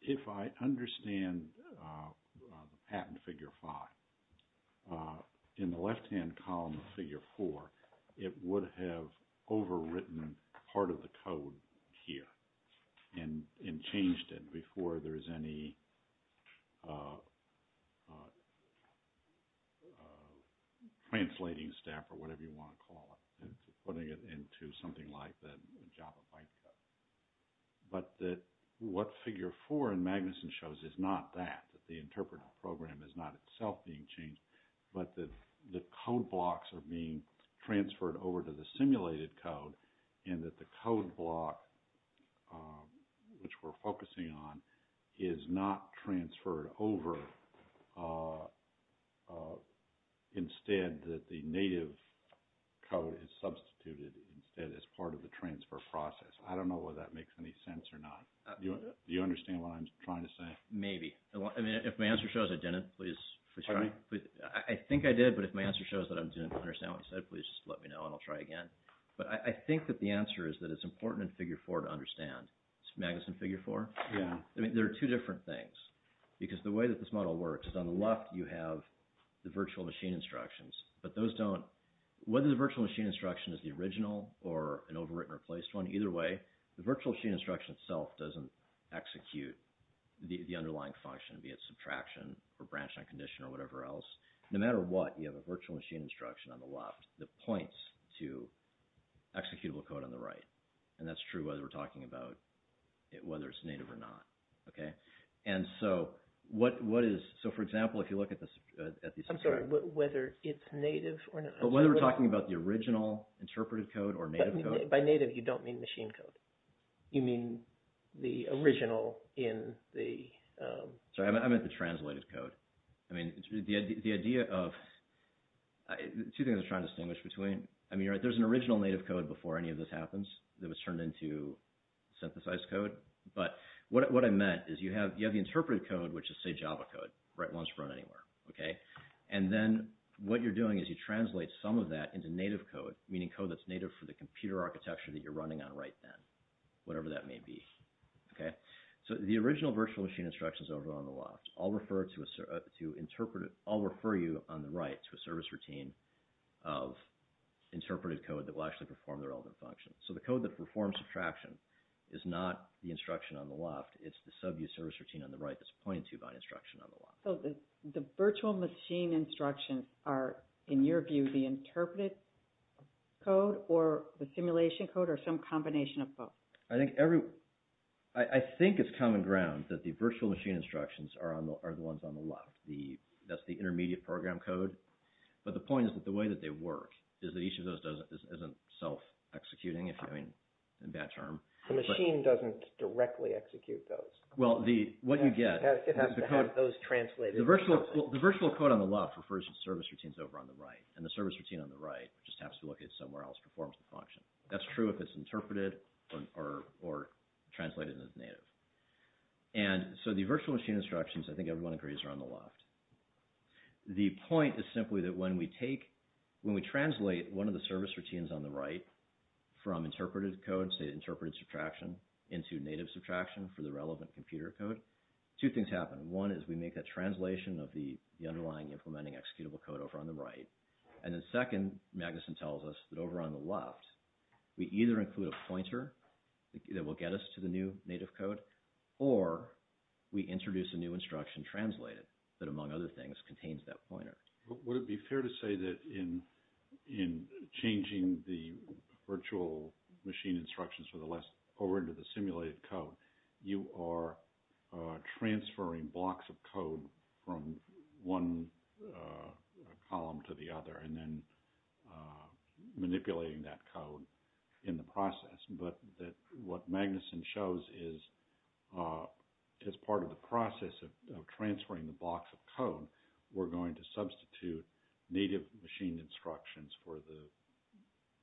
if I understand patent figure five, in the left-hand column of figure four, it would have overwritten part of the code here and changed it before there's any translating step or whatever you want to call it, putting it into something like the Java bytecode. But that what figure four in Magnuson shows is not that, that the interpreter program is not itself being changed, but that the code blocks are being transferred over to the simulated code, and that the code block, which we're focusing on, is not transferred over. Instead, that the native code is substituted instead as part of the transfer process. I don't know whether that makes any sense or not. Do you understand what I'm trying to say? Maybe. I mean, if my answer shows I didn't, please try. I think I did, but if my answer shows that I didn't understand what you said, please just let me know, and I'll try again. But I think that the answer is that it's important in figure four to understand. It's Magnuson figure four. I mean, there are two different things. Because the way that this model works is on the left, you have the virtual machine instructions, but those don't, whether the virtual machine instruction is the original or an overwritten or replaced one, either way, the virtual machine instruction itself doesn't execute the underlying function, be it subtraction or branch non-condition or whatever else. No matter what, you have a virtual machine instruction on the left that points to executable code on the right, and that's true whether we're talking about whether it's native or not. Okay? And so what is, so for example, if you look at this, I'm sorry, whether it's native or not. But whether we're talking about the original interpreted code or native code. By native, you don't mean machine code. You mean the original in the... Sorry, I meant the translated code. I mean, the idea of, two things I'm trying to distinguish between, I mean, there's an original native code before any of this happens that was turned into synthesized code, but what I meant is you have the interpreted code, which is, say, Java code, right? One's run anywhere. Okay? And then what you're doing is you translate some of that into native code, meaning code that's native for the computer architecture that you're running on right then, whatever that may be. Okay? So the original virtual machine instructions over on the left, I'll refer to interpret it, I'll refer you on the right to a service routine of interpreted code that will actually perform the relevant function. So the code that performs subtraction is not the instruction on the left, it's the sub-use service routine on the right that's pointed to by an instruction on the left. So the virtual machine instructions are, in your view, the interpreted code or the simulation code or some combination of both? I think every, I think it's common ground that the virtual machine instructions are the ones on the left. That's the intermediate program code, but the point is that the way that they work is that each of those isn't self-executing, if you're having a bad term. The machine doesn't directly execute those. Well, what you get... It has to have those translated. The virtual code on the left refers to service routines over on the right, and the service routine on the right just has to look at somewhere else to perform the function. That's true if it's interpreted or translated as native. And so the virtual machine instructions, I think everyone agrees, are on the left. The point is simply that when we take, when we translate one of the service routines on the right from interpreted code, say interpreted subtraction, into native subtraction for the relevant computer code, two things happen. One is we make that translation of the underlying implementing executable code over on the right. And then second, Magnuson tells us that over on the left, we either include a pointer that will get us to the new native code, or we introduce a new instruction translated that, among other things, contains that pointer. Would it be fair to say that in changing the virtual machine instructions for the left over into the simulated code, you are transferring blocks of code from one column to the other and then manipulating that code in the process, but that what Magnuson shows is as part of the process of transferring the blocks of code, we're going to substitute native machine instructions for the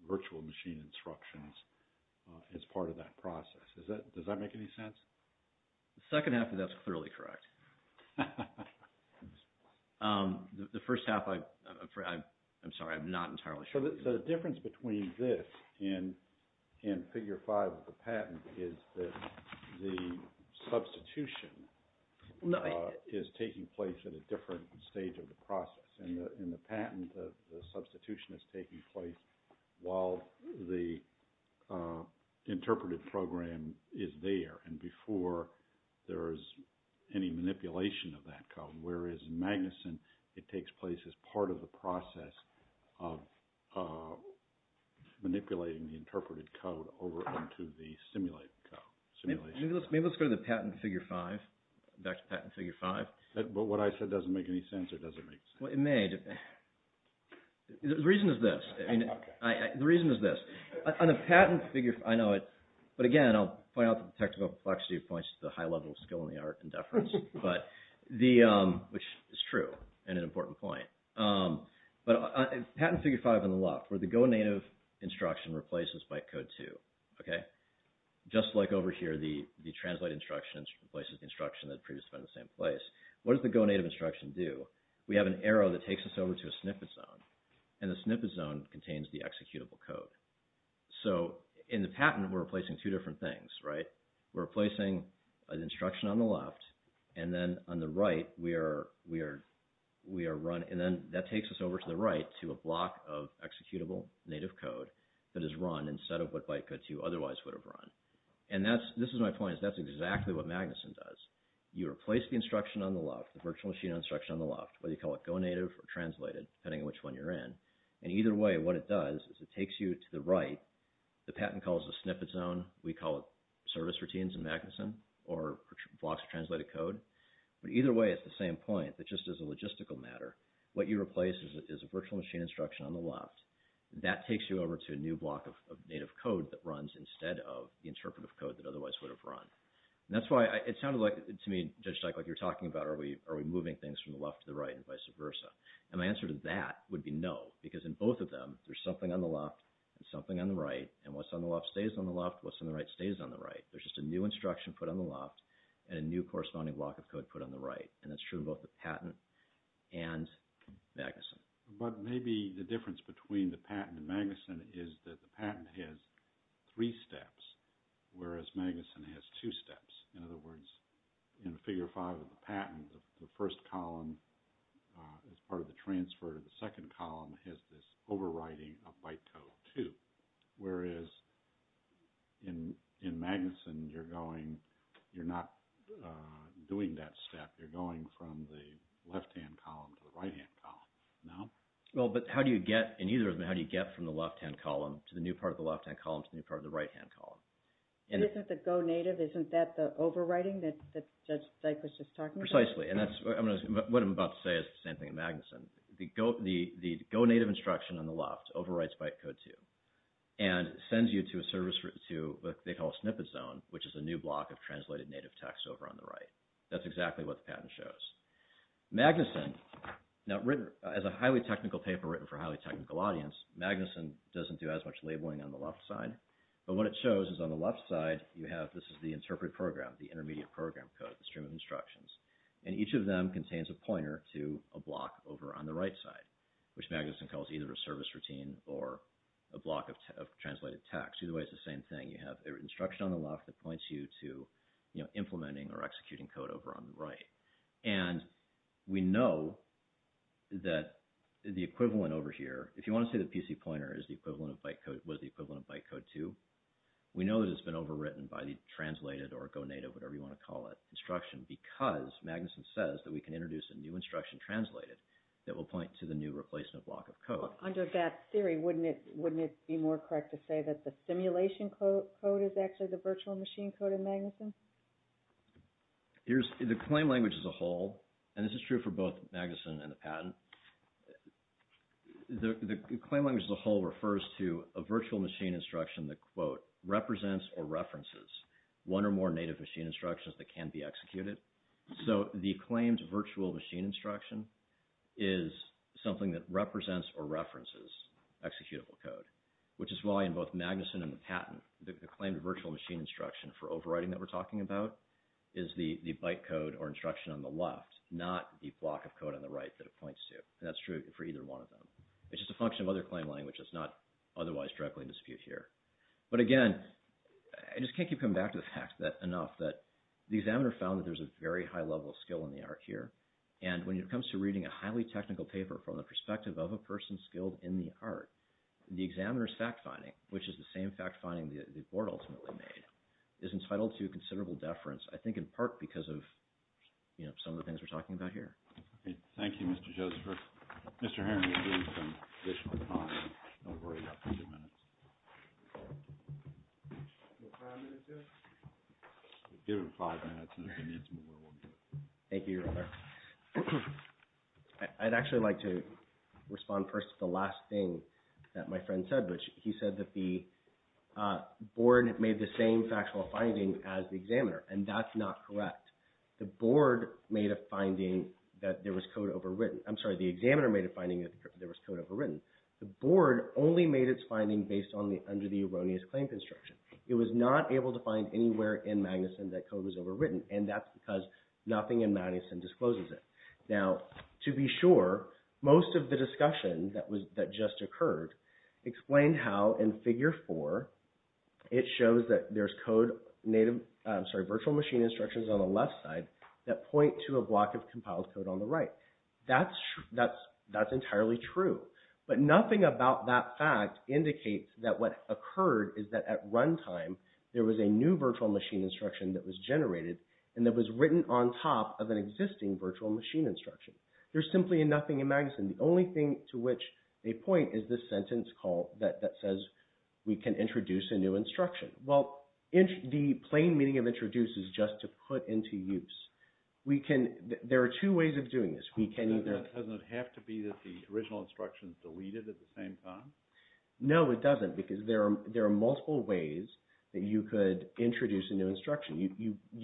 virtual machine instructions as part of that process. Does that make any sense? The second half of that is clearly correct. The first half, I'm sorry, I'm not entirely sure. So the difference between this and figure five of the patent is that the substitution is taking place at a different stage of the process in the patent. The substitution is taking place while the interpreted program is there and before there is any manipulation of that code, whereas in Magnuson, it takes place as part of the process of manipulating the interpreted code over into the simulated code. Maybe let's go to the patent figure five, back to patent figure five. But what I said doesn't make any sense or does it make sense? Well, it may. The reason is this. The reason is this. On the patent figure, I know it, but again, I'll point out that the technical complexity points to the high level of skill in the art in deference, which is true and an important point. But patent figure five on the left where the go native instruction replaces byte code two, okay? Just like over here, the translate instruction replaces the instruction that previously went in the same place. What does the go native instruction do? We have an arrow that takes us over to a snippet zone and the snippet zone contains the executable code. So in the patent, we're replacing two different things, right? We're replacing an instruction on the left and then on the right, we are run and then that takes us over to the right to a block of executable native code that is run instead of what byte code two otherwise would have run. And this is my point. That's exactly what Magnuson does. You replace the instruction on the left, the virtual machine instruction on the left, whether you call it go native or translated depending on which one you're in. And either way, what it does is it takes you to the right. The patent calls the snippet zone. We call it service routines in Magnuson or blocks of translated code. But either way, it's the same point that just as a logistical matter, what you replace is a virtual machine instruction on the left. That takes you over to a new block of native code that runs instead of the interpretive code that otherwise would have run. And that's why it sounded like to me when you were talking about are we moving things from the left to the right and vice versa. And my answer to that would be no because in both of them there's something on the left and something on the right and what's on the left stays on the left and what's on the right stays on the right. There's just a new instruction put on the left and a new corresponding block of code put on the right. And that's true in both the patent and Magnuson. But maybe the difference between the patent and Magnuson is that the patent has three steps whereas Magnuson has two steps. In other words, in the figure five of the patent the first column as part of the transfer to the second column has this overwriting of byte code too whereas in Magnuson you're going you're not doing that step you're going from the left-hand column to the right-hand column. No? Well, but how do you get in either of them how do you get from the left-hand column of the right-hand column? And isn't the go-native isn't that the overwriting that's going on in the right-hand column? No. No. No. Is that what Judge Dyk was just talking about? Precisely. And that's what I'm about to say is the same thing in Magnuson. The go-native instruction on the left overwrites byte code too and sends you to a service to what they call a snippet zone which is a new block of translated native text over on the right. That's exactly what the patent shows. Magnuson now written as a highly technical paper written for a highly technical audience Magnuson doesn't do as much labeling on the left side but what it shows is on the left side you have this is the interpret program the intermediate program code the stream of instructions and each of them contains a pointer to a block over on the right side which Magnuson calls either a service routine or a block of translated text. Either way it's the same thing. You have an instruction on the left that points you to implementing or executing code over on the right and we know that the equivalent over here if you want to say the PC pointer is the equivalent of byte code was the equivalent of byte code too we know that it's been overwritten by the translated or go native whatever you want to call it instruction because Magnuson says that we can introduce a new instruction translated that will point to the new replacement block of code. Under that theory wouldn't it be more correct to say that the simulation code is actually the virtual machine code in Magnuson? The claim language as a whole and this is true for both Magnuson and the patent the claim language as a whole refers to a virtual machine instruction that quote represents or references one or more native machine instructions that can be executed so the claimed virtual machine instruction is something that represents or references executable code which is why in both Magnuson and the patent the claimed virtual machine instruction for overwriting that we're talking about is the byte code or instruction on the left not the block of code on the right that it points to and that's true for either one of them it's just a function of other claim language that's not otherwise directly in dispute here but again I just can't keep coming back to the fact that enough that the examiner found that there's a very high level skill in the art here and when it comes to reading a highly technical paper from the perspective of a person skilled in the art the examiner's fact finding which is the same fact finding the board ultimately made is entitled to considerable deference I think in part because of you know some of the things we're talking about here thank you Mr. Joseph for Mr. Harington doing some additional time and we've already got a few minutes give him five minutes and if he needs more we'll do it thank you your honor I'd actually like to respond first to the last thing that my friend said which he said that the board made the same factual finding as the examiner and that's not correct the board made a finding that there was code overwritten I'm sorry the examiner made a finding that there was code overwritten the board only made its finding based on the under the erroneous claim construction it was not able to find anywhere in Magnuson that code was overwritten and that's because nothing in Magnuson discloses it now to be sure most of the discussion that was that just occurred explained how in figure four it shows that there's code native I'm sorry virtual machine instructions on the left side that point to a block of compiled code on the right that's that's that's entirely true but nothing about that fact indicates that what occurred is that at that point there was no virtual machine instruction that was generated and that was written on top of an existing virtual machine instruction there's simply nothing in Magnuson the only thing to which a point is this sentence call that that says we can introduce a new instruction you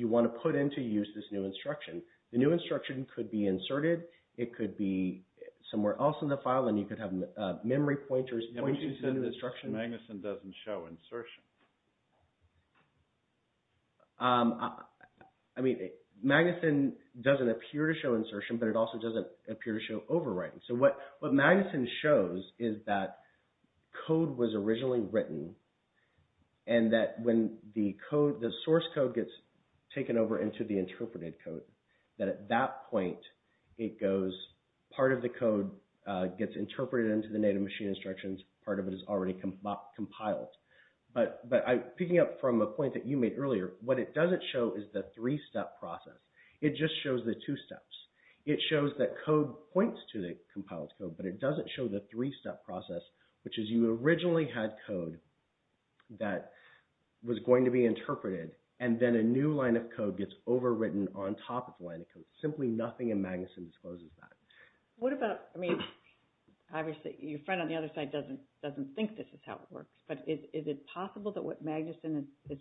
want to put into use this new instruction the new instruction could be inserted it could be somewhere else in the file and you could have memory pointers pointing to the new instruction Magnuson doesn't show insertion I mean Magnuson doesn't appear to show insertion but it also doesn't appear to show overwriting what Magnuson shows is that code was originally written and that when the source code gets taken over into the interpreted code that at that point it goes part of the code gets interpreted into the native machine instructions part of it is already compiled but picking up from a point you made earlier what it doesn't show is the three step process it just shows the two steps it shows that code points to the compiled code but it doesn't show the three step process which is you originally had code that was compiled into the compiled code but it doesn't show the three step you originally had code that was compiled into the compiled code but it doesn't show the three step process which is you originally had code that was compiled into the doesn't show the three step process which is you originally had to a way that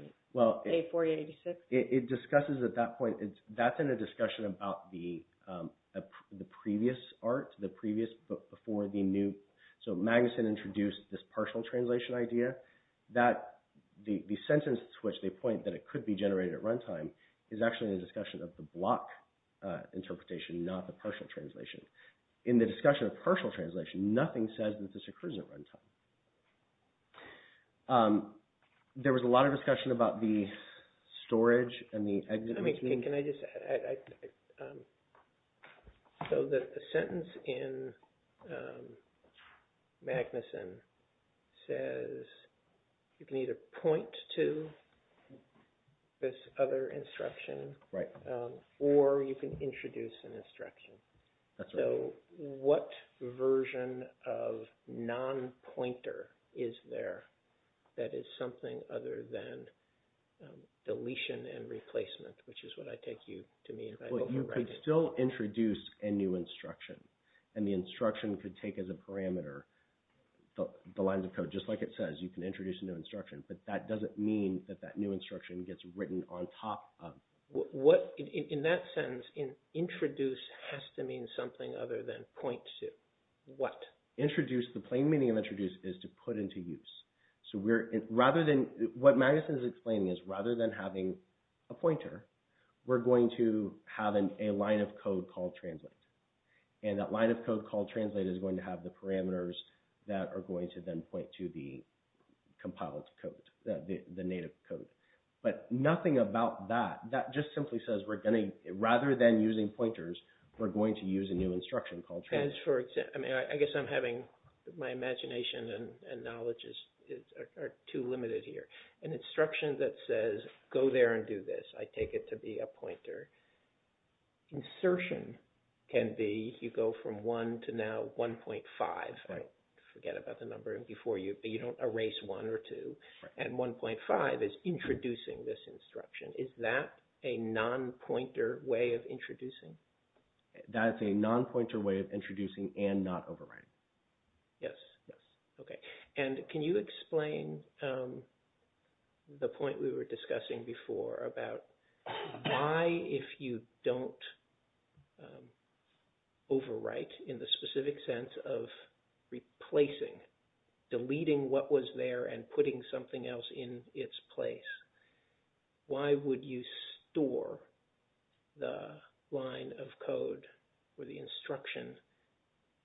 was not clear to me. So the sentence in Magnuson says you can either point to this other instruction or you can introduce an additional instruction. You could still introduce a new instruction. And the instruction could take as a parameter the lines of code just like it says. But that doesn't mean that that new instruction gets written on top of. In that sentence introduce has to do with nothing other than point to what. Introduce is to put into use. What Magnuson is explaining is rather than having a pointer we're going to have a line of code called translate. And that line of code is going to have the parameters that are going to point to the compiled code, the native code. But nothing about that. That just simply says rather than using pointers we're going to use a new instruction. I guess I'm having my imagination and knowledge are too limited here. An instruction that says go there and do this. I take it to be a pointer. Insertion can be you go from one to now 1.5. I forget about the number before you but you don't erase one or two. And 1.5 is introducing this instruction. Is that a non-pointer way of introducing? That's a non-pointer way of introducing and not overriding. Yes. Okay. And can you explain the point we were discussing before about why if you don't overwrite in the specific sense of replacing, deleting what was there and putting something else in its place, why would you store the line of code or the instruction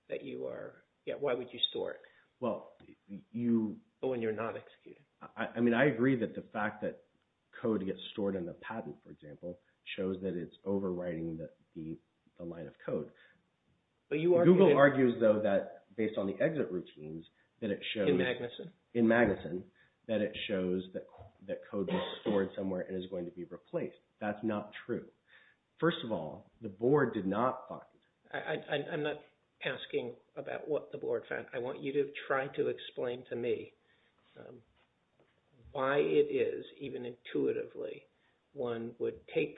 that you are, why would you store it? When you're not executing. I agree that the fact that code gets overwritten in the patent, for example, shows that it's overwriting the line of code. Google argues though that based on the exit routines that it shows, in Magnuson, that it shows that code is stored somewhere and is going to be replaced. That's not true. First of all, the board did not find. I'm not asking about what the board found. I want you to try to explain to me why it is, even intuitively, one would take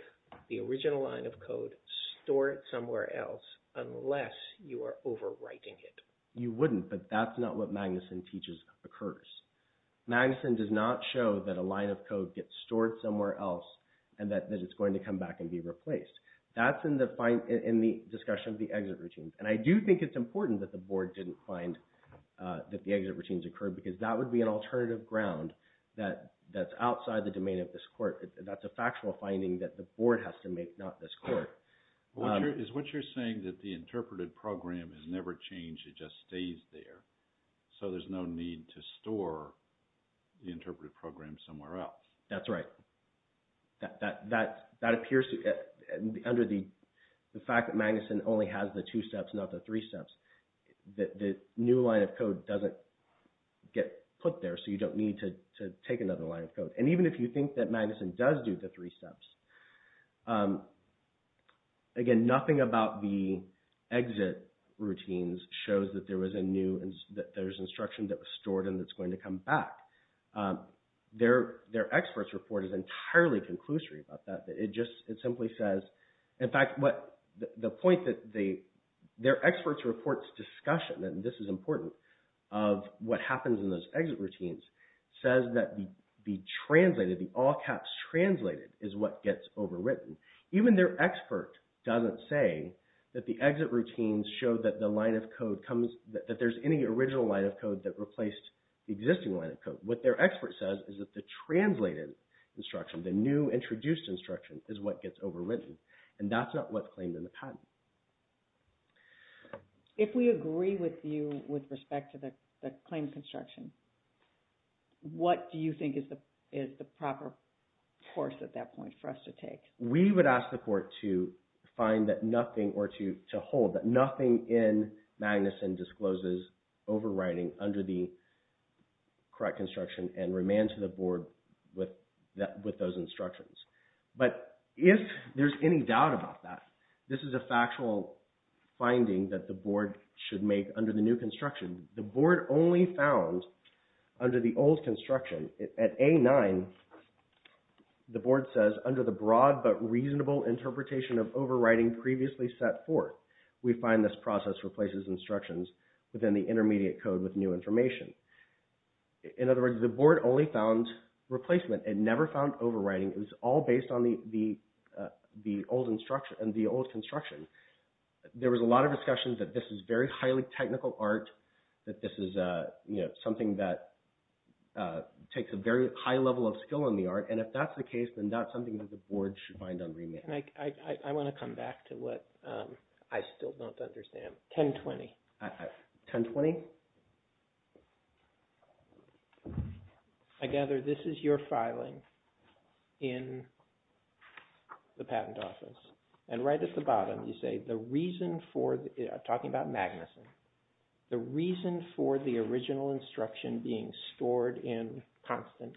the original line of code, store it somewhere else unless you are overwriting it. You wouldn't, but that's not what Magnuson teaches occurs. Magnuson does not teach the exit routines. I do think it's important that the board didn't find that the exit routines occurred because that would be an alternative ground that's outside the domain of this court. That's a factual finding that the board has to make, not this court. Is what you're saying that the interpreted program has never changed, it just stays there, so there's no need to store the interpreted program somewhere else? That's right. That appears under the fact that Magnuson only has the two steps, not the three steps. The new line of code doesn't get put there, so you don't need to take another line of code. And even if you think that Magnuson does do the three steps, again, nothing about the exit routines shows that there's instruction that was stored and is going to come back. Their experts' report is entirely conclusory about that. It simply says, in fact, the point that their experts' report's discussion of what happens in those exit routines says that the all-caps translated is what gets overwritten. Even their expert doesn't say that the exit routines show that there's any original line of code that replaced the existing line of code. What their expert says is that the translated instruction, the new introduced instruction, is what gets overwritten. And that's not what's claimed in the MAGNUSON There's no knowledge about that. And we would ask the court to find that nothing or to hold that nothing in MAGNUSON discloses overwriting under the correct instruction and remand to the board with those instructions. But if there's any doubt about that, this is a factual finding that the board should make under the new construction. The board only found under the old construction at A9, the board says, under the broad but reasonable interpretation of overwriting previously set forth, we find this process replaces instructions within the intermediate code with new information. In other words, the board only found replacement and never found overwriting. It was all based on the old construction. There was a lot of discussion that this is very highly technical art, that this is something that takes a very high level of skill in the art, and if that's the case, then that's something the board should find on remaking. I want to come back to what I still don't understand. 1020. 1020? I gather this is your filing in the patent office, and right at the bottom you say the reason for the original instruction being stored in constant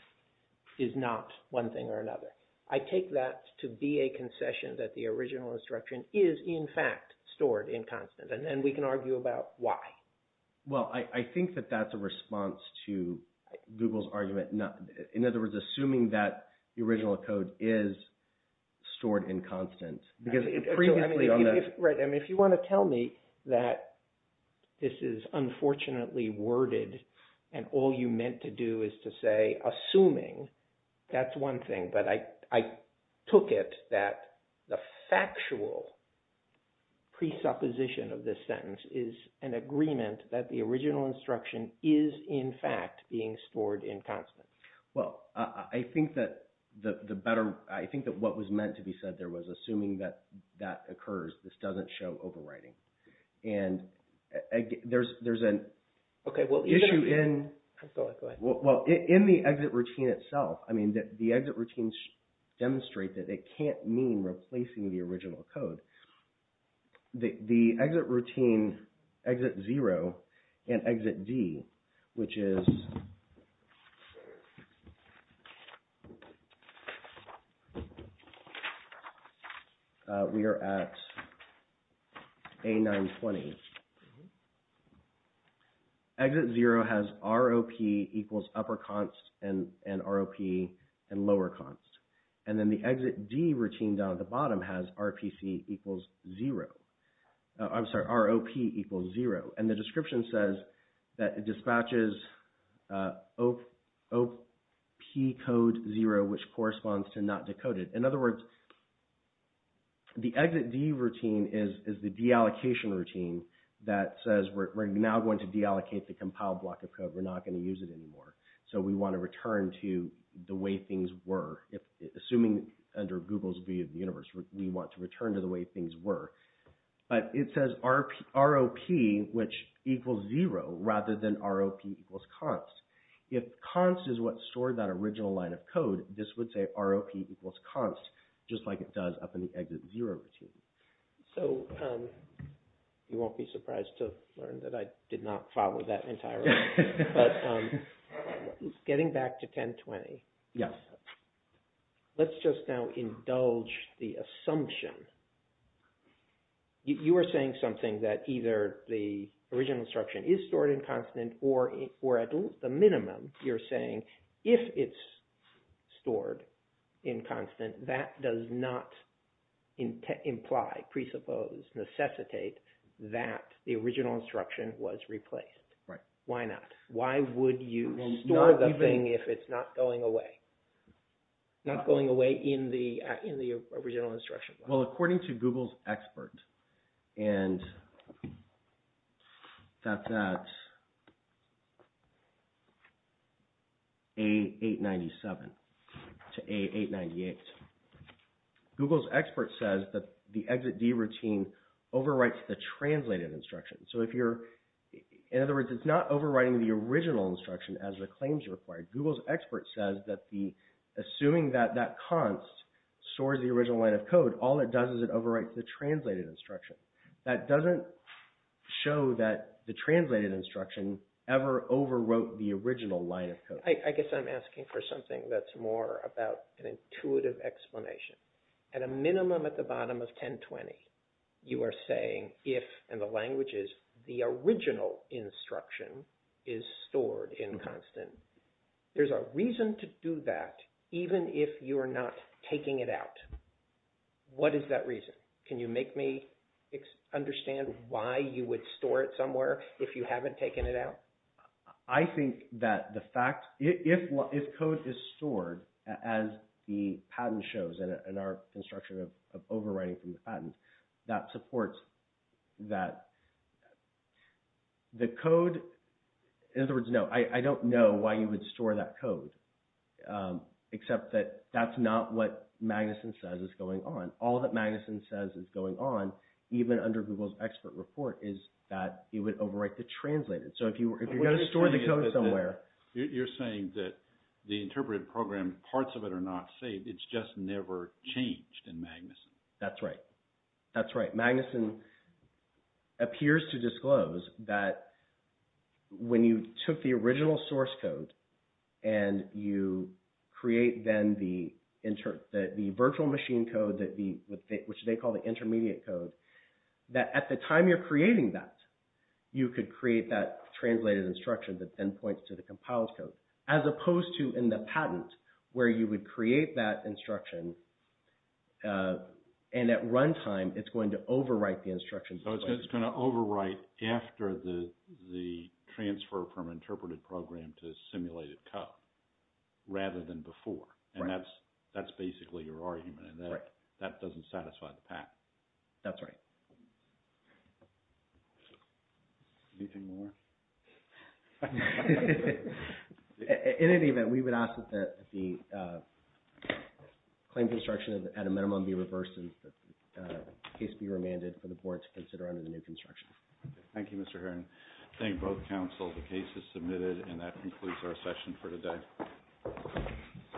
is not one thing or another. I take that to be a concession that the original instruction is in fact stored in constant, and then we can argue about why. Well, I think that that's a response to Google's response to the original instruction being stored in constant. If you want to tell me that this is unfortunately worded and all you meant to do is to say assuming, that's one thing, but I took it that the factual presupposition of this sentence is an agreement that the original instruction is in constant. Well, I think that what was meant to be said there was assuming that that occurs, this doesn't show overwriting. And there's an issue in the exit routine itself, I mean, the exit routines demonstrate that it can't mean replacing the original code. The exit routine, exit 0 and exit D, which is we are at A920. Exit 0 has ROP equals upper const and ROP and lower const. And then the exit D routine the bottom has RPC equals 0. I'm sorry, ROP equals 0. And the description says that it dispatches ROP equals 0. ROP code 0, which corresponds to not decoded. In other words, the exit D routine is the deallocation routine that says we're now going to deallocate the compiled block of code, we're not going to use it anymore. So we want to return to the way things were. Assuming under Google's view of the universe, we want to return to the way things were. But it says ROP equals 0, rather than ROP equals const. If const is what stored that original line of code, this would say ROP equals const, just like it does up in the exit 0 routine. So, you won't be surprised to learn that I did not follow that entirely. But getting back to 1020. Yes. Let's just now indulge the assumption. You were saying something that either the original instruction is stored in constant or at the minimum you're saying if it's stored in constant, that does not imply, presuppose, necessitate that the original instruction was replaced. Right. Why not? Why would you store the thing if it's not going away? Not going away in the original instruction file. Well, according to Google's expert and that's at A897 to A898, Google's expert says that the exit D routine overwrites the translated instruction. So, if you're, in other words, it's not overwriting the original instruction as the claims are required. Google's expert says that the, assuming that that const stores the original line of code, all it does is it overwrites the translated instruction. That doesn't show that the translated instruction ever overwrote the original line of code. I guess I'm asking for something that's more about an intuitive explanation. At a minimum at the bottom of 1020, you are saying if, and the language is, the original instruction is stored in constant. There's a reason to do that, even if you are not taking it out. What is that reason? Can you make me understand why you would store it somewhere if taken it out? I think that the fact, if code is stored as the patent shows in our construction of overwriting from the original code, that's why you would store that code, except that that's not what Magnuson says is going on. All that Magnuson says is going on even under Google's expert report is that it would overwrite the translated. If you are going to overwrite the translated code and you create then the virtual machine code which they call the intermediate code, at the time you are creating that, you can create that translated instruction as opposed to in the patent where you would create that instruction and at the you would overwrite the translated code rather than before. And that's basically your argument and that doesn't satisfy the patent. That's right. Anything more? In any event, we would ask that the claim be reversed and the case be remanded for the board to consider under the new construction. Thank you, Mr. Heron. I thank both counsel. The case is submitted and that concludes our session for today.